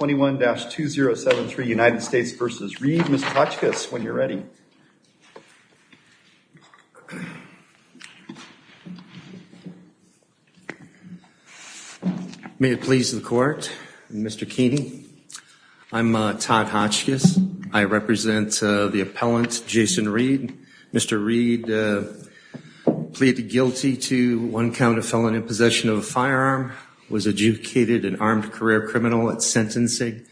21-2073 United States v. Reed. Mr. Hotchkiss, when you're ready. May it please the court. Mr. Keeney, I'm Todd Hotchkiss. I represent the appellant Jason Reed. Mr. Reed pleaded guilty to one count of felon in possession of a firearm, was adjudicated an armed career criminal at sentencing,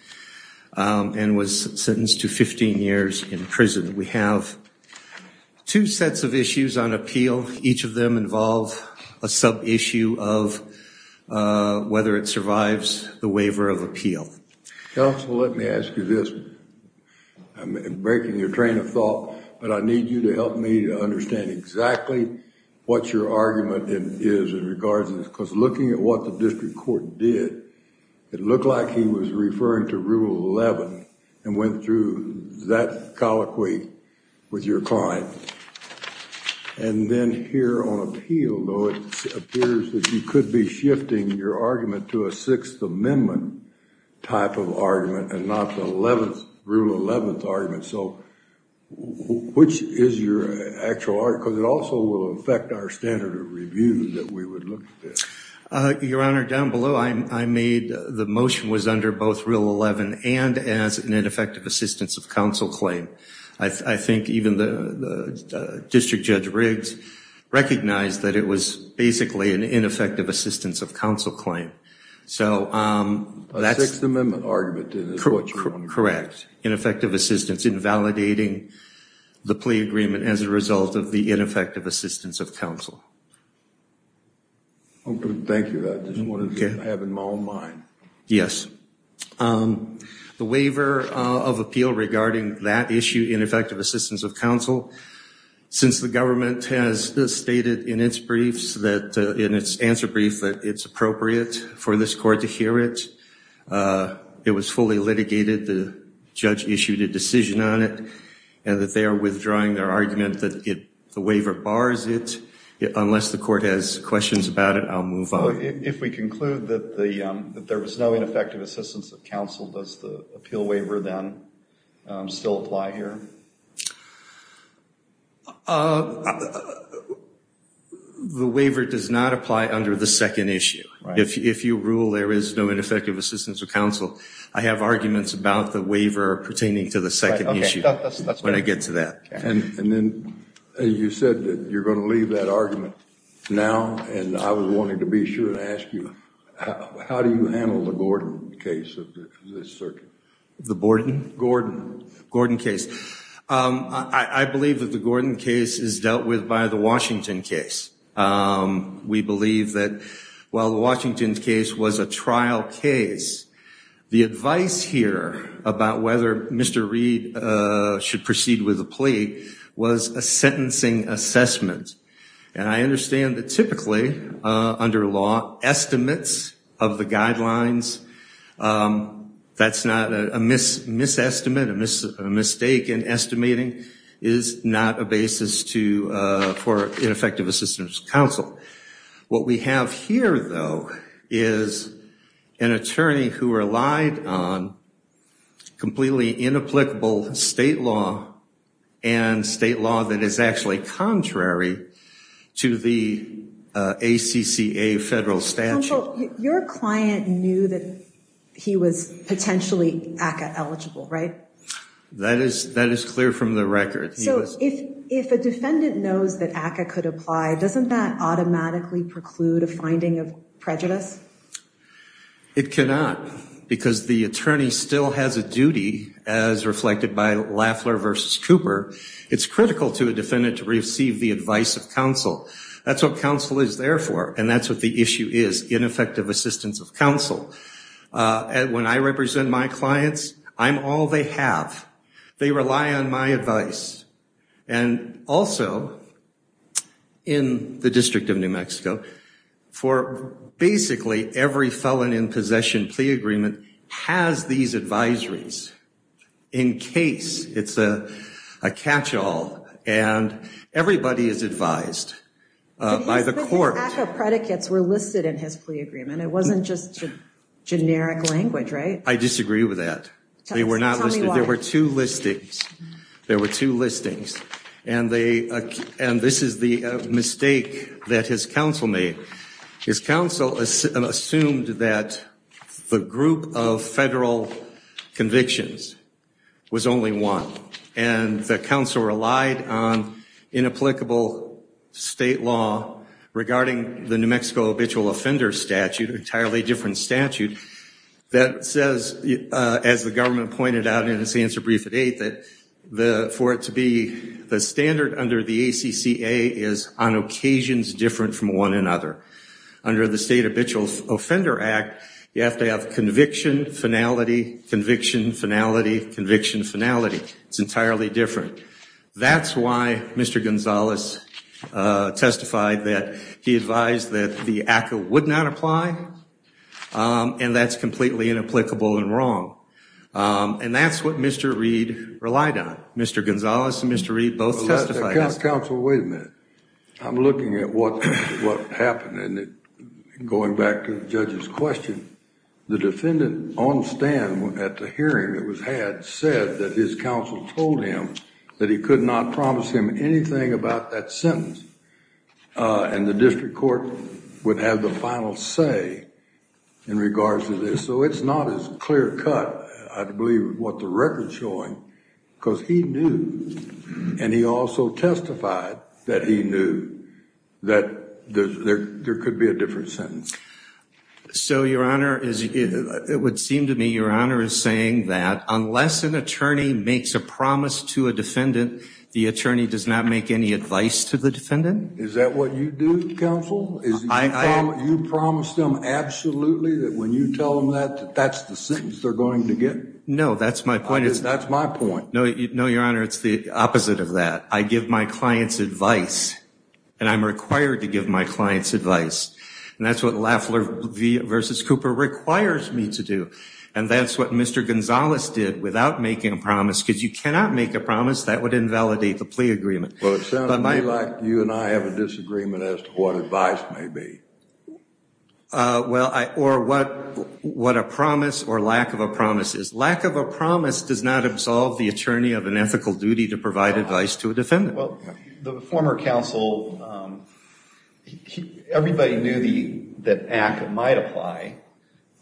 and was sentenced to 15 years in prison. We have two sets of issues on appeal. Each of them involve a sub-issue of whether it survives the waiver of appeal. Counsel, let me ask you this. I'm breaking your train of thought, but I need you to help me to understand exactly what your argument is in regards to this. Because looking at what the district court did, it looked like he was referring to Rule 11 and went through that colloquy with your client. And then here on appeal, though, it appears that you could be shifting your argument to a Sixth Amendment type of argument and not the 11th, Rule 11th argument. So which is your actual argument? Because it also will standard of review that we would look at this. Your Honor, down below I made the motion was under both Rule 11 and as an ineffective assistance of counsel claim. I think even the District Judge Riggs recognized that it was basically an ineffective assistance of counsel claim. So that's... A Sixth Amendment argument is what you're arguing. Correct. Ineffective assistance in validating the plea agreement as a result of the ineffective assistance of counsel. Thank you. I just wanted to have it in my own mind. Yes. The waiver of appeal regarding that issue, ineffective assistance of counsel, since the government has stated in its briefs that, in its answer brief, that it's appropriate for this court to hear it, it was fully litigated. The judge issued a decision on it and that they are withdrawing their argument. As far as it, unless the court has questions about it, I'll move on. If we conclude that there was no ineffective assistance of counsel, does the appeal waiver then still apply here? The waiver does not apply under the second issue. If you rule there is no ineffective assistance of counsel, I have arguments about the waiver pertaining to the second issue when I said that you're going to leave that argument now. And I was wanting to be sure to ask you, how do you handle the Gordon case of this circuit? The Gordon? Gordon. Gordon case. I believe that the Gordon case is dealt with by the Washington case. We believe that while the Washington case was a trial case, the advice here about whether Mr. Reid should proceed with a plea was a sentencing assessment. And I understand that typically under law, estimates of the guidelines, that's not a mis-estimate, a mistake in estimating, is not a basis for ineffective assistance of counsel. What we have here, though, is an attorney who relied on completely inapplicable state law and state law that is actually contrary to the ACCA federal statute. Counsel, your client knew that he was potentially ACCA eligible, right? That is, that is clear from the record. So if a defendant knows that ACCA could apply, doesn't that automatically preclude a finding of prejudice? It cannot, because the attorney still has a duty as reflected by Lafler versus Cooper. It's critical to a defendant to receive the advice of counsel. That's what counsel is there for. And that's what the issue is, ineffective assistance of counsel. And when I represent my clients, I'm all they have. They rely on my advice. And also, in the District of New Mexico, for basically every felon in his plea agreement, has these advisories in case it's a catch-all. And everybody is advised by the court. His ACCA predicates were listed in his plea agreement. It wasn't just generic language, right? I disagree with that. They were not listed. There were two listings. There were two listings. And this is the mistake that his counsel made. His counsel assumed that the group of federal convictions was only one. And the counsel relied on inapplicable state law regarding the New Mexico habitual offender statute, an entirely different statute, that says, as the government pointed out in its answer brief at 8, that for it to be the standard under the ACCA is on occasions different from one another. Under the state habitual offender act, you have to have conviction, finality, conviction, finality, conviction, finality. It's entirely different. That's why Mr. Gonzalez testified that he advised that the ACCA would not apply. And that's completely inapplicable and wrong. And that's what Mr. Reed relied on. Mr. Gonzalez and Mr. Reed both testified. Counsel, wait a minute. I'm looking at what happened and going back to the judge's question. The defendant on stand at the hearing that was had said that his counsel told him that he could not promise him anything about that sentence. And the district court would have the final say in regards to this. So it's not as clear cut, I believe, what the record's showing. Because he knew and he also testified that he knew that there could be a different sentence. So, Your Honor, it would seem to me Your Honor is saying that unless an attorney makes a promise to a defendant, the attorney does not make any advice to the defendant? Is that what you do, Counsel? You promise them absolutely that when you tell them that, that that's the sentence they're going to get? No, that's my point. That's my point. No, Your Honor, it's the opposite of that. I give my clients advice. And I'm required to give my clients advice. And that's what Lafler v. Cooper requires me to do. And that's what Mr. Gonzalez did without making a promise. Because you cannot make a promise. That would invalidate the plea agreement. Well, it sounds to me like you and I have a disagreement as to what advice may be. Well, or what a promise or lack of a promise is. Lack of a promise does not absolve the attorney of an ethical duty to provide advice to a defendant. Well, the former counsel, everybody knew that ACT might apply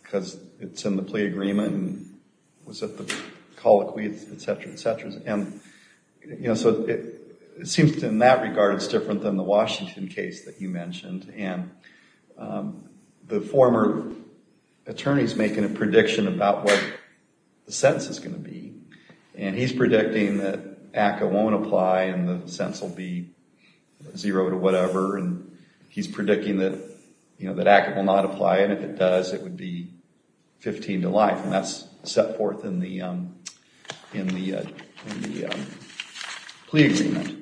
because it's in the plea agreement and was at the colloquy, et cetera, et cetera. And, you know, so it seems in that regard it's different than the Washington case that you mentioned. And the former attorney's making a prediction about what the sentence is going to be. And he's predicting that ACA won't apply and the sentence will be zero to whatever. And he's predicting that, you know, that ACA will not apply. And if it does, it would be 15 to life. And that's set forth in the plea agreement.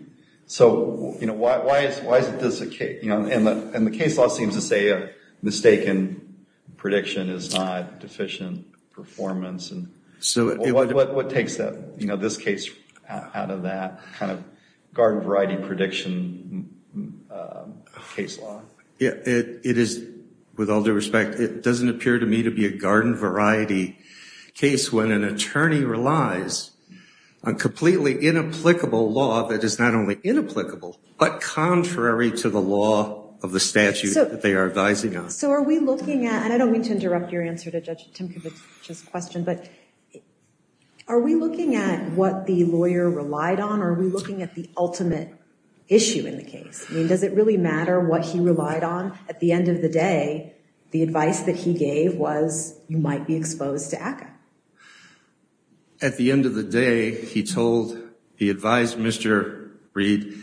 So, you know, why is this a case? You know, and the case law seems to say a mistaken prediction is not deficient performance. And what takes that, you know, this case out of that kind of garden variety prediction case law? It is, with all due respect, it doesn't appear to me to be a garden variety case when an attorney relies on completely inapplicable law that is not only inapplicable, but contrary to the law of the statute that they are advising on. So are we looking at, and I don't mean to interrupt your answer to Judge Timkovich's question, but are we looking at what the lawyer relied on or are we looking at the ultimate issue in the case? I mean, does it really matter what he relied on? At the end of the day, the advice that he gave was you might be exposed to ACA. At the end of the day, he told the advised Mr. Reed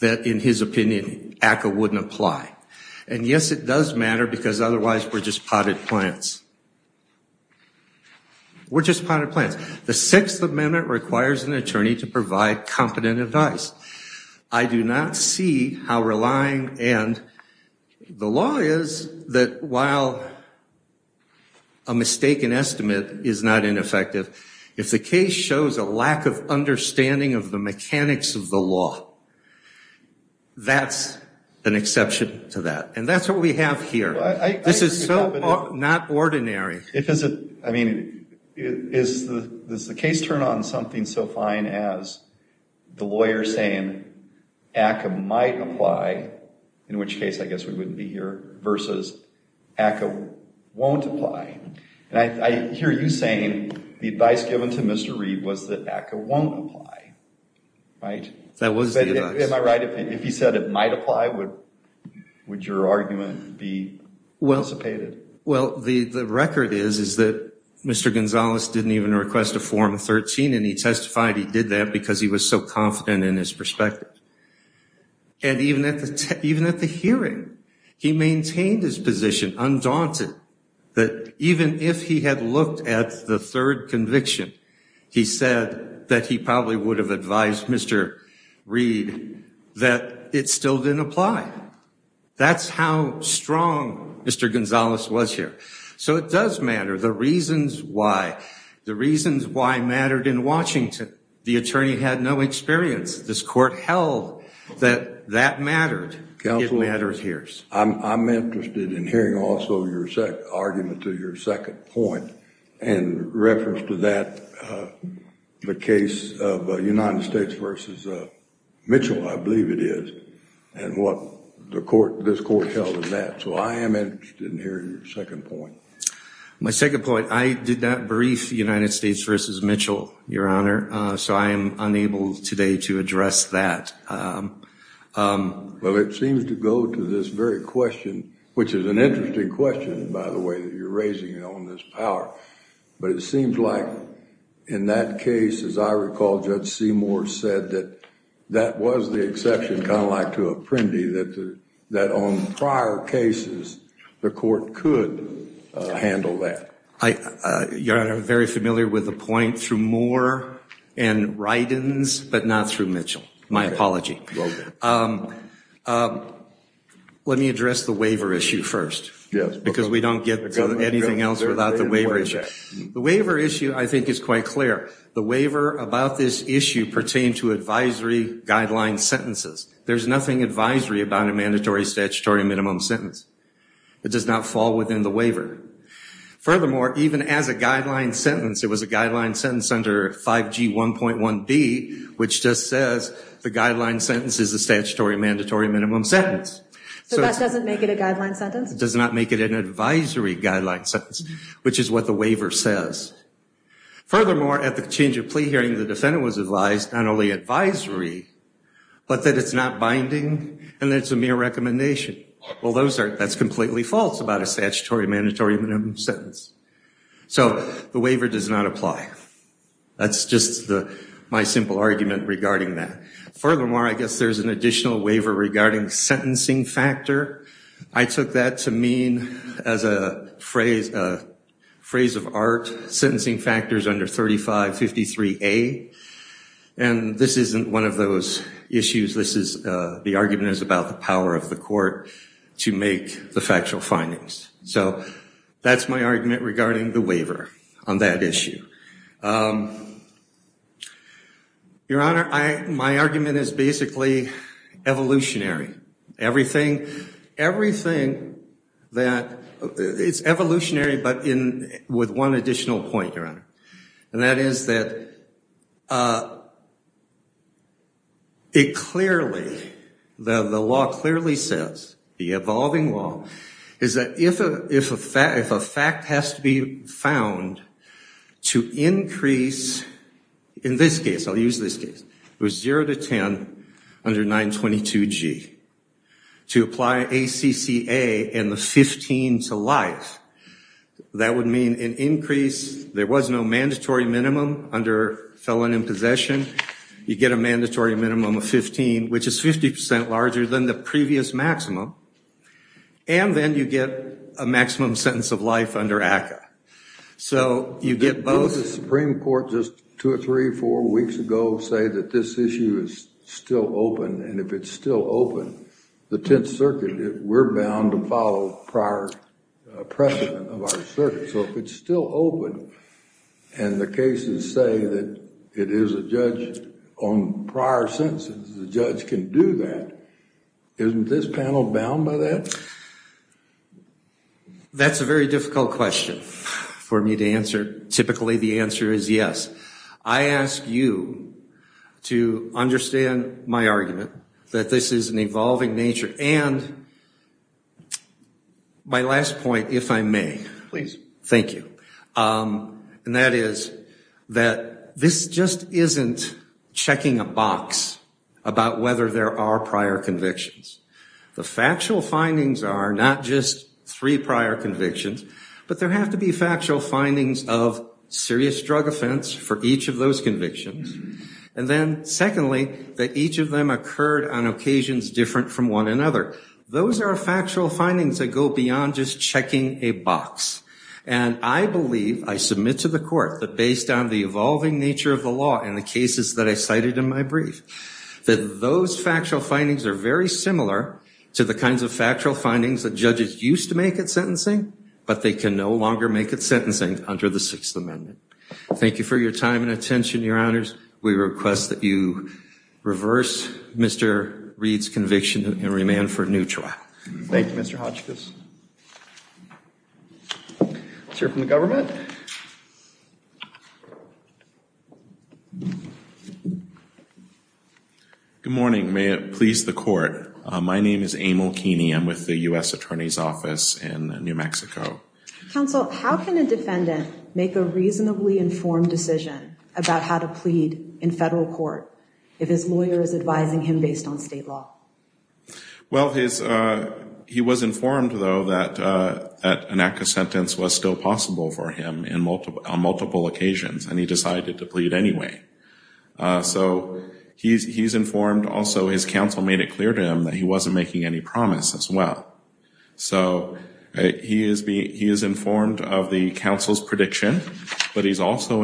that in his opinion, ACA wouldn't apply. And yes, it does matter because otherwise we're just potted plants. We're just potted plants. The Sixth Amendment requires an attorney to provide competent advice. I do not see how relying, and the law is that while a mistaken estimate is not ineffective, if the case shows a lack of understanding of the mechanics of the law, that's an exception to that. And that's what we have here. This is so not ordinary. I mean, does the case turn on something so fine as the lawyer saying ACA might apply, in which case I guess we wouldn't be here, versus ACA won't apply? And I hear you saying the advice given to Mr. Reed was that ACA won't apply, right? That was the advice. Am I right if he said it might apply? Would your argument be elucidated? Well, the record is that Mr. Gonzalez didn't even request a Form 13, and he testified he did that because he was so confident in his perspective. And even at the hearing, he maintained his position, undaunted, that even if he had looked at the third conviction, he said that he probably would have advised Mr. Reed that it still didn't apply. That's how strong Mr. Gonzalez was here. So it does matter. The reasons why mattered in Washington. The attorney had no experience. This court held that that mattered. It matters here. Counsel, I'm interested in hearing also your argument to your second point in reference to the case of United States versus Mitchell, I believe it is, and what this court held of that. So I am interested in hearing your second point. My second point, I did not brief United States versus Mitchell, Your Honor, so I am unable today to address that. Well, it seems to go to this very question, which is an interesting question, by the way, that you're raising on this power. But it seems like in that case, as I recall, Judge Seymour said that that was the exception, kind of like to Apprendi, that on prior cases, the court could handle that. Your Honor, I'm very familiar with the point through Moore and Rydins, but not through Mitchell. My apology. Let me address the waiver issue first, because we don't get to anything else without the waiver issue. The waiver issue, I think, is quite clear. The waiver about this issue pertained to advisory guideline sentences. There's nothing advisory about a mandatory statutory minimum sentence. It does not fall within the waiver. Furthermore, even as a guideline sentence, it was a guideline sentence under 5G1.1b, which just says the guideline sentence is a statutory mandatory minimum sentence. So that doesn't make it a guideline sentence? It does not make it an advisory guideline sentence, which is what the waiver says. Furthermore, at the change of plea hearing, the defendant was advised not only advisory, but that it's not binding, and that it's a mere recommendation. Well, that's completely false about a statutory mandatory minimum sentence. So the waiver does not apply. That's just my simple argument regarding that. Furthermore, I guess there's an additional waiver regarding sentencing factor. I took that to mean, as a phrase of art, sentencing factors under 3553a. And this isn't one of those issues. The argument is about the power of the court to make the factual findings. So that's my argument regarding the waiver on that issue. Your Honor, my argument is basically evolutionary. Everything that, it's evolutionary, but with one additional point, Your Honor. And that is that it clearly, the law clearly says, the evolving law, is that if a fact has to be found to increase, in this case, I'll use this case, it was zero to 10 under 922g, to apply ACCA and the 15 to life, that would mean an increase, there was no mandatory minimum under felon in possession, you get a mandatory minimum of 15, which is 50 percent larger than the previous maximum. And then you get a maximum sentence of life under ACCA. So you get both. Did the Supreme Court just two or three, four weeks ago say that this issue is still open? And if it's still open, the Tenth Circuit, we're bound to follow prior precedent of our circuit. So if it's still open, and the cases say that it is a judge on prior sentences, the judge can do that. Isn't this panel bound by that? That's a very difficult question for me to answer. Typically, the answer is yes. I ask you to understand my argument that this is an evolving nature. And my last point, if I may. Please. Thank you. And that is that this just isn't checking a box about whether there are prior convictions. The factual findings are not just three prior convictions, but there have to be factual findings of serious drug offense for each of those convictions. And then secondly, that each of them occurred on occasions different from one another. Those are factual findings that go beyond just checking a box. And I believe, I submit to the court, that based on the evolving nature of the law and the cases that I cited in my brief, that those factual findings are very similar to the kinds of factual findings that judges used to make at sentencing, but they can no longer make at sentencing under the Sixth Amendment. Thank you for your time and attention, Your Honors. We request that you reverse Mr. Reed's conviction and remand for a new trial. Thank you, Mr. Hodgkiss. Let's hear from the government. Good morning. May it please the court. My name is Emil Keeney. I'm with the U.S. Attorney's Office in New Mexico. Counsel, how can a defendant make a reasonably informed decision about how to plead in federal court if his lawyer is advising him based on state law? Well, he was informed, though, that an ACCA sentence was still possible for him on multiple occasions, and he decided to plead anyway. So he's informed. Also, his counsel made it clear to him that he wasn't making any promise as well. So he is informed of the counsel's prediction, but he's also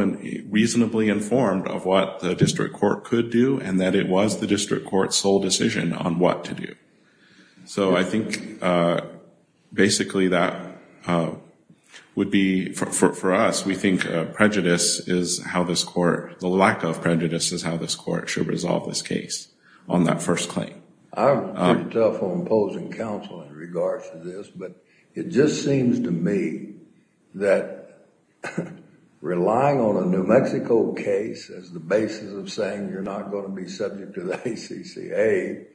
reasonably informed of what the district court could do and that it was the district court's sole decision on what to do. So I think basically that would be, for us, we think prejudice is how this court, the lack of prejudice is how this court should resolve this case on that first claim. I'm tough on opposing counsel in regards to this, but it just seems to me that relying on a New Mexico case as the basis of saying you're not going to be subject to the ACCA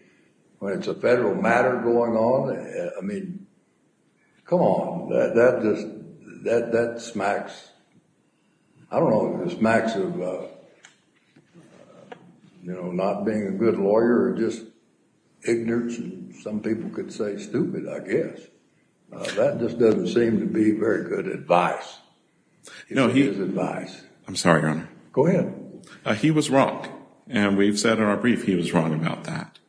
when it's a federal matter going on, I mean, come on, that just, that smacks, I don't know, it just smacks of, you know, not being a good lawyer or just ignorance, and some people could say stupid, I guess. That just doesn't seem to be very good advice. It's his advice. I'm sorry, Your Honor. Go ahead. He was wrong, and we've said in our brief he was wrong about that.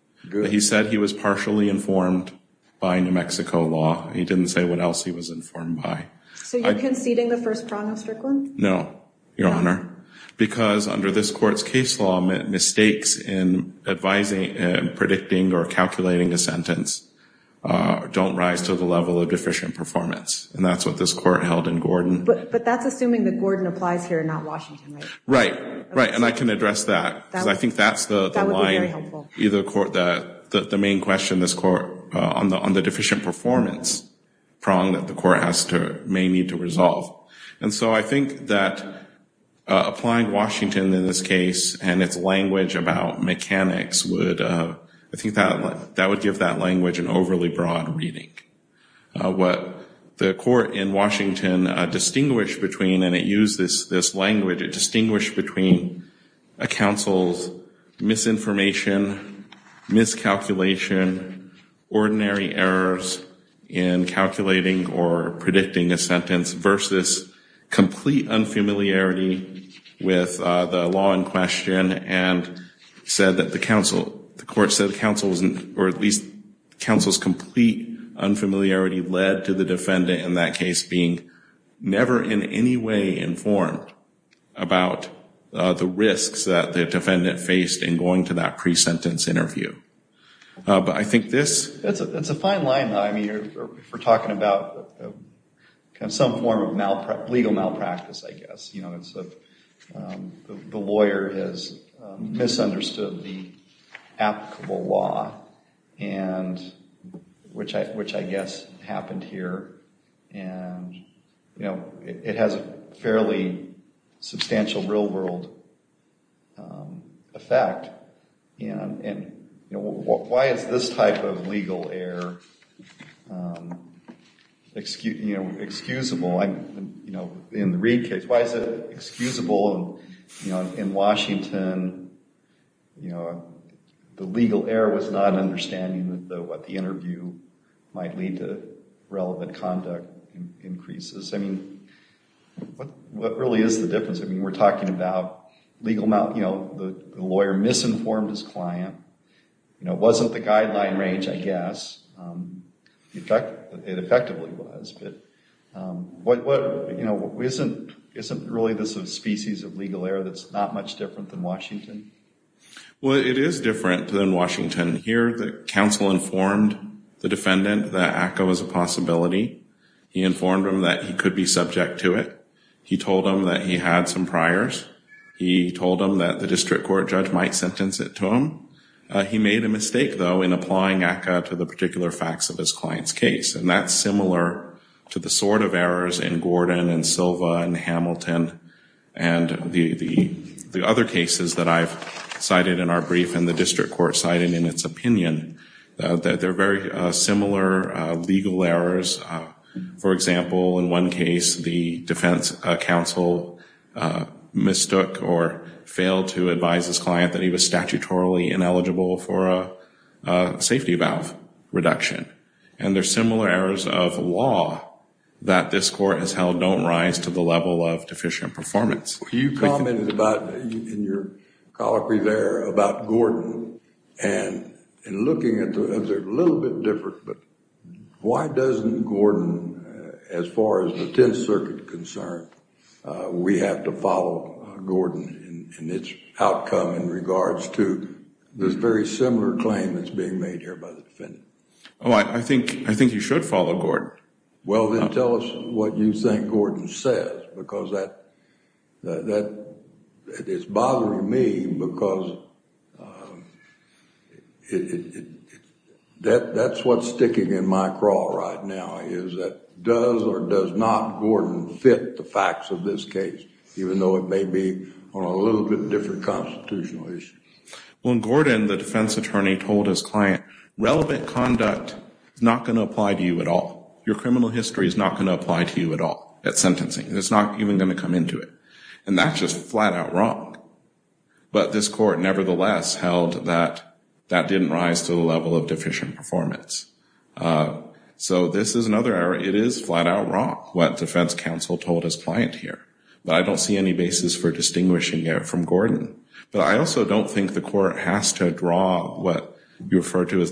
He said he was partially informed by New Mexico law. He didn't say what he was informed by. So you're conceding the first prong of Strickland? No, Your Honor, because under this court's case law, mistakes in advising and predicting or calculating a sentence don't rise to the level of deficient performance, and that's what this court held in Gordon. But that's assuming that Gordon applies here and not Washington, right? Right, right, and I can address that, because I think that's the main question this court, on the deficient performance prong that the court has to, may need to resolve. And so I think that applying Washington in this case and its language about mechanics would, I think that would give that language an overly broad reading. What the court in Washington distinguished between, and it used this language, it distinguished between a counsel's misinformation, miscalculation, ordinary errors in calculating or predicting a sentence versus complete unfamiliarity with the law in question and said that the counsel, the court said counsel wasn't, or at least counsel's complete unfamiliarity led to the defendant in that case being never in any way informed about the risks that the defendant faced in going to that pre-sentence interview. But I think this... It's a fine line though, I mean, if we're talking about some form of malpractice, legal malpractice, I guess, you know, it's the lawyer has misunderstood the applicable law and which I guess happened here. And, you know, it has a fairly substantial real world effect. And, you know, why is this type of legal error excusable? You know, in the Reid case, why is it excusable? And, you know, in Washington, the legal error was not understanding what the interview might lead to relevant conduct increases. I mean, what really is the difference? I mean, we're talking about legal malpractice, you know, the lawyer misinformed his client, you know, it wasn't the guideline range, I guess. In fact, it effectively was. But, you know, isn't really this a species of legal error that's not much different than Washington? Well, it is different than Washington. Here, the counsel informed the defendant that ACCA was a possibility. He informed him that he could be subject to it. He told him that he had some priors. He told him that the district court judge might sentence it to him. He made a mistake though in applying ACCA to the particular facts of his client's case. And that's similar to the sort of errors in Gordon and Silva and Hamilton and the other cases that I've cited in our brief and the district court cited in its opinion. They're very similar legal errors. For example, in one case, the defense counsel mistook or failed to advise his client that he was statutorily ineligible for a safety valve reduction. And there's similar errors of that this court has held don't rise to the level of deficient performance. You commented about, in your colloquy there, about Gordon and looking at it a little bit different. But why doesn't Gordon, as far as the Tenth Circuit is concerned, we have to follow Gordon in its outcome in regards to this very similar claim that's being made here by the district? Well, then tell us what you think Gordon says because it's bothering me because that's what's sticking in my craw right now is that does or does not Gordon fit the facts of this case, even though it may be on a little bit different constitutional issue. When Gordon, the defense attorney, told his client, relevant conduct is not going to apply to you at all. Your criminal history is not going to apply to you at all at sentencing. It's not even going to come into it. And that's just flat out wrong. But this court, nevertheless, held that that didn't rise to the level of deficient performance. So this is another error. It is flat out wrong, what defense counsel told his client here. But I don't see any basis for distinguishing it from Gordon. But I also don't think the court has to draw what you refer to as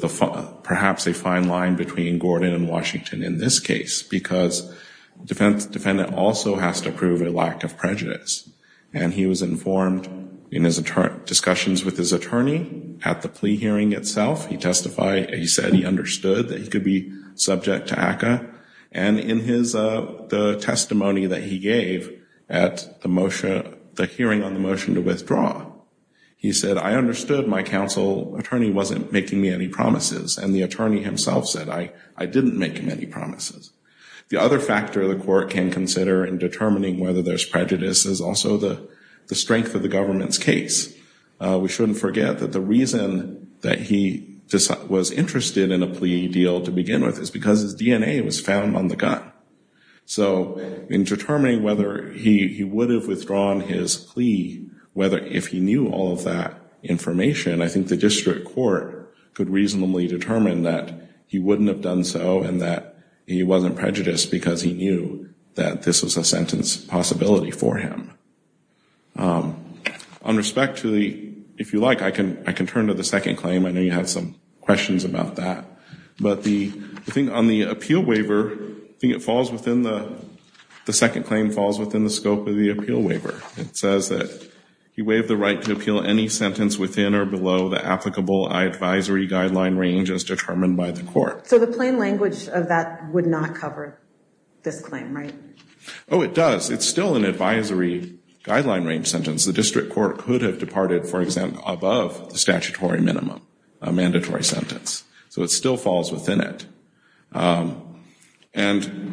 perhaps a fine line between Gordon and Washington in this case, because the defendant also has to prove a lack of prejudice. And he was informed in his discussions with his attorney at the plea hearing itself. He testified. He said he understood that he could be subject to ACCA. And in the testimony that he gave at the hearing on the motion to withdraw, he said, I understood my counsel attorney wasn't making me any promises. And the attorney himself said, I didn't make him any promises. The other factor the court can consider in determining whether there's prejudice is also the strength of the government's case. We shouldn't forget that the reason that he was interested in a plea deal to begin with is because his DNA was found on the whether if he knew all of that information, I think the district court could reasonably determine that he wouldn't have done so and that he wasn't prejudiced because he knew that this was a sentence possibility for him. On respect to the, if you like, I can I can turn to the second claim. I know you had some questions about that. But the thing on the appeal waiver, I think it falls he waived the right to appeal any sentence within or below the applicable advisory guideline range as determined by the court. So the plain language of that would not cover this claim, right? Oh, it does. It's still an advisory guideline range sentence. The district court could have departed, for example, above the statutory minimum, a mandatory sentence. So it still falls within it. And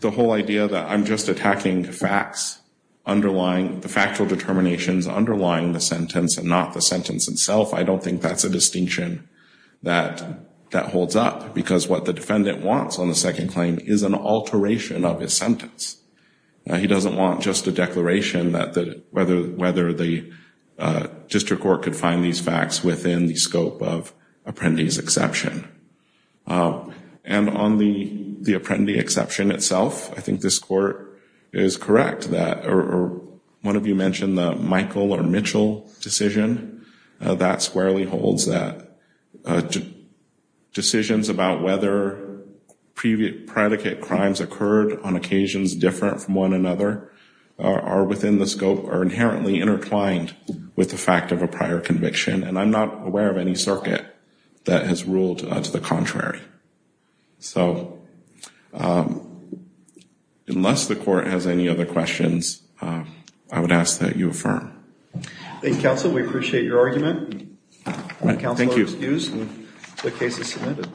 the whole idea that I'm just attacking facts underlying the factual determinations underlying the sentence and not the sentence itself, I don't think that's a distinction that that holds up because what the defendant wants on the second claim is an alteration of his sentence. He doesn't want just a declaration that whether the district court could find these facts within the scope of the apprendee exception itself. I think this court is correct that or one of you mentioned the Michael or Mitchell decision. That squarely holds that decisions about whether previous predicate crimes occurred on occasions different from one another are within the scope or inherently intertwined with the fact of a prior conviction. And I'm not aware of any circuit that has ruled to the contrary. So unless the court has any other questions, I would ask that you affirm. Thank you, counsel. We appreciate your argument. Thank you. The case is submitted.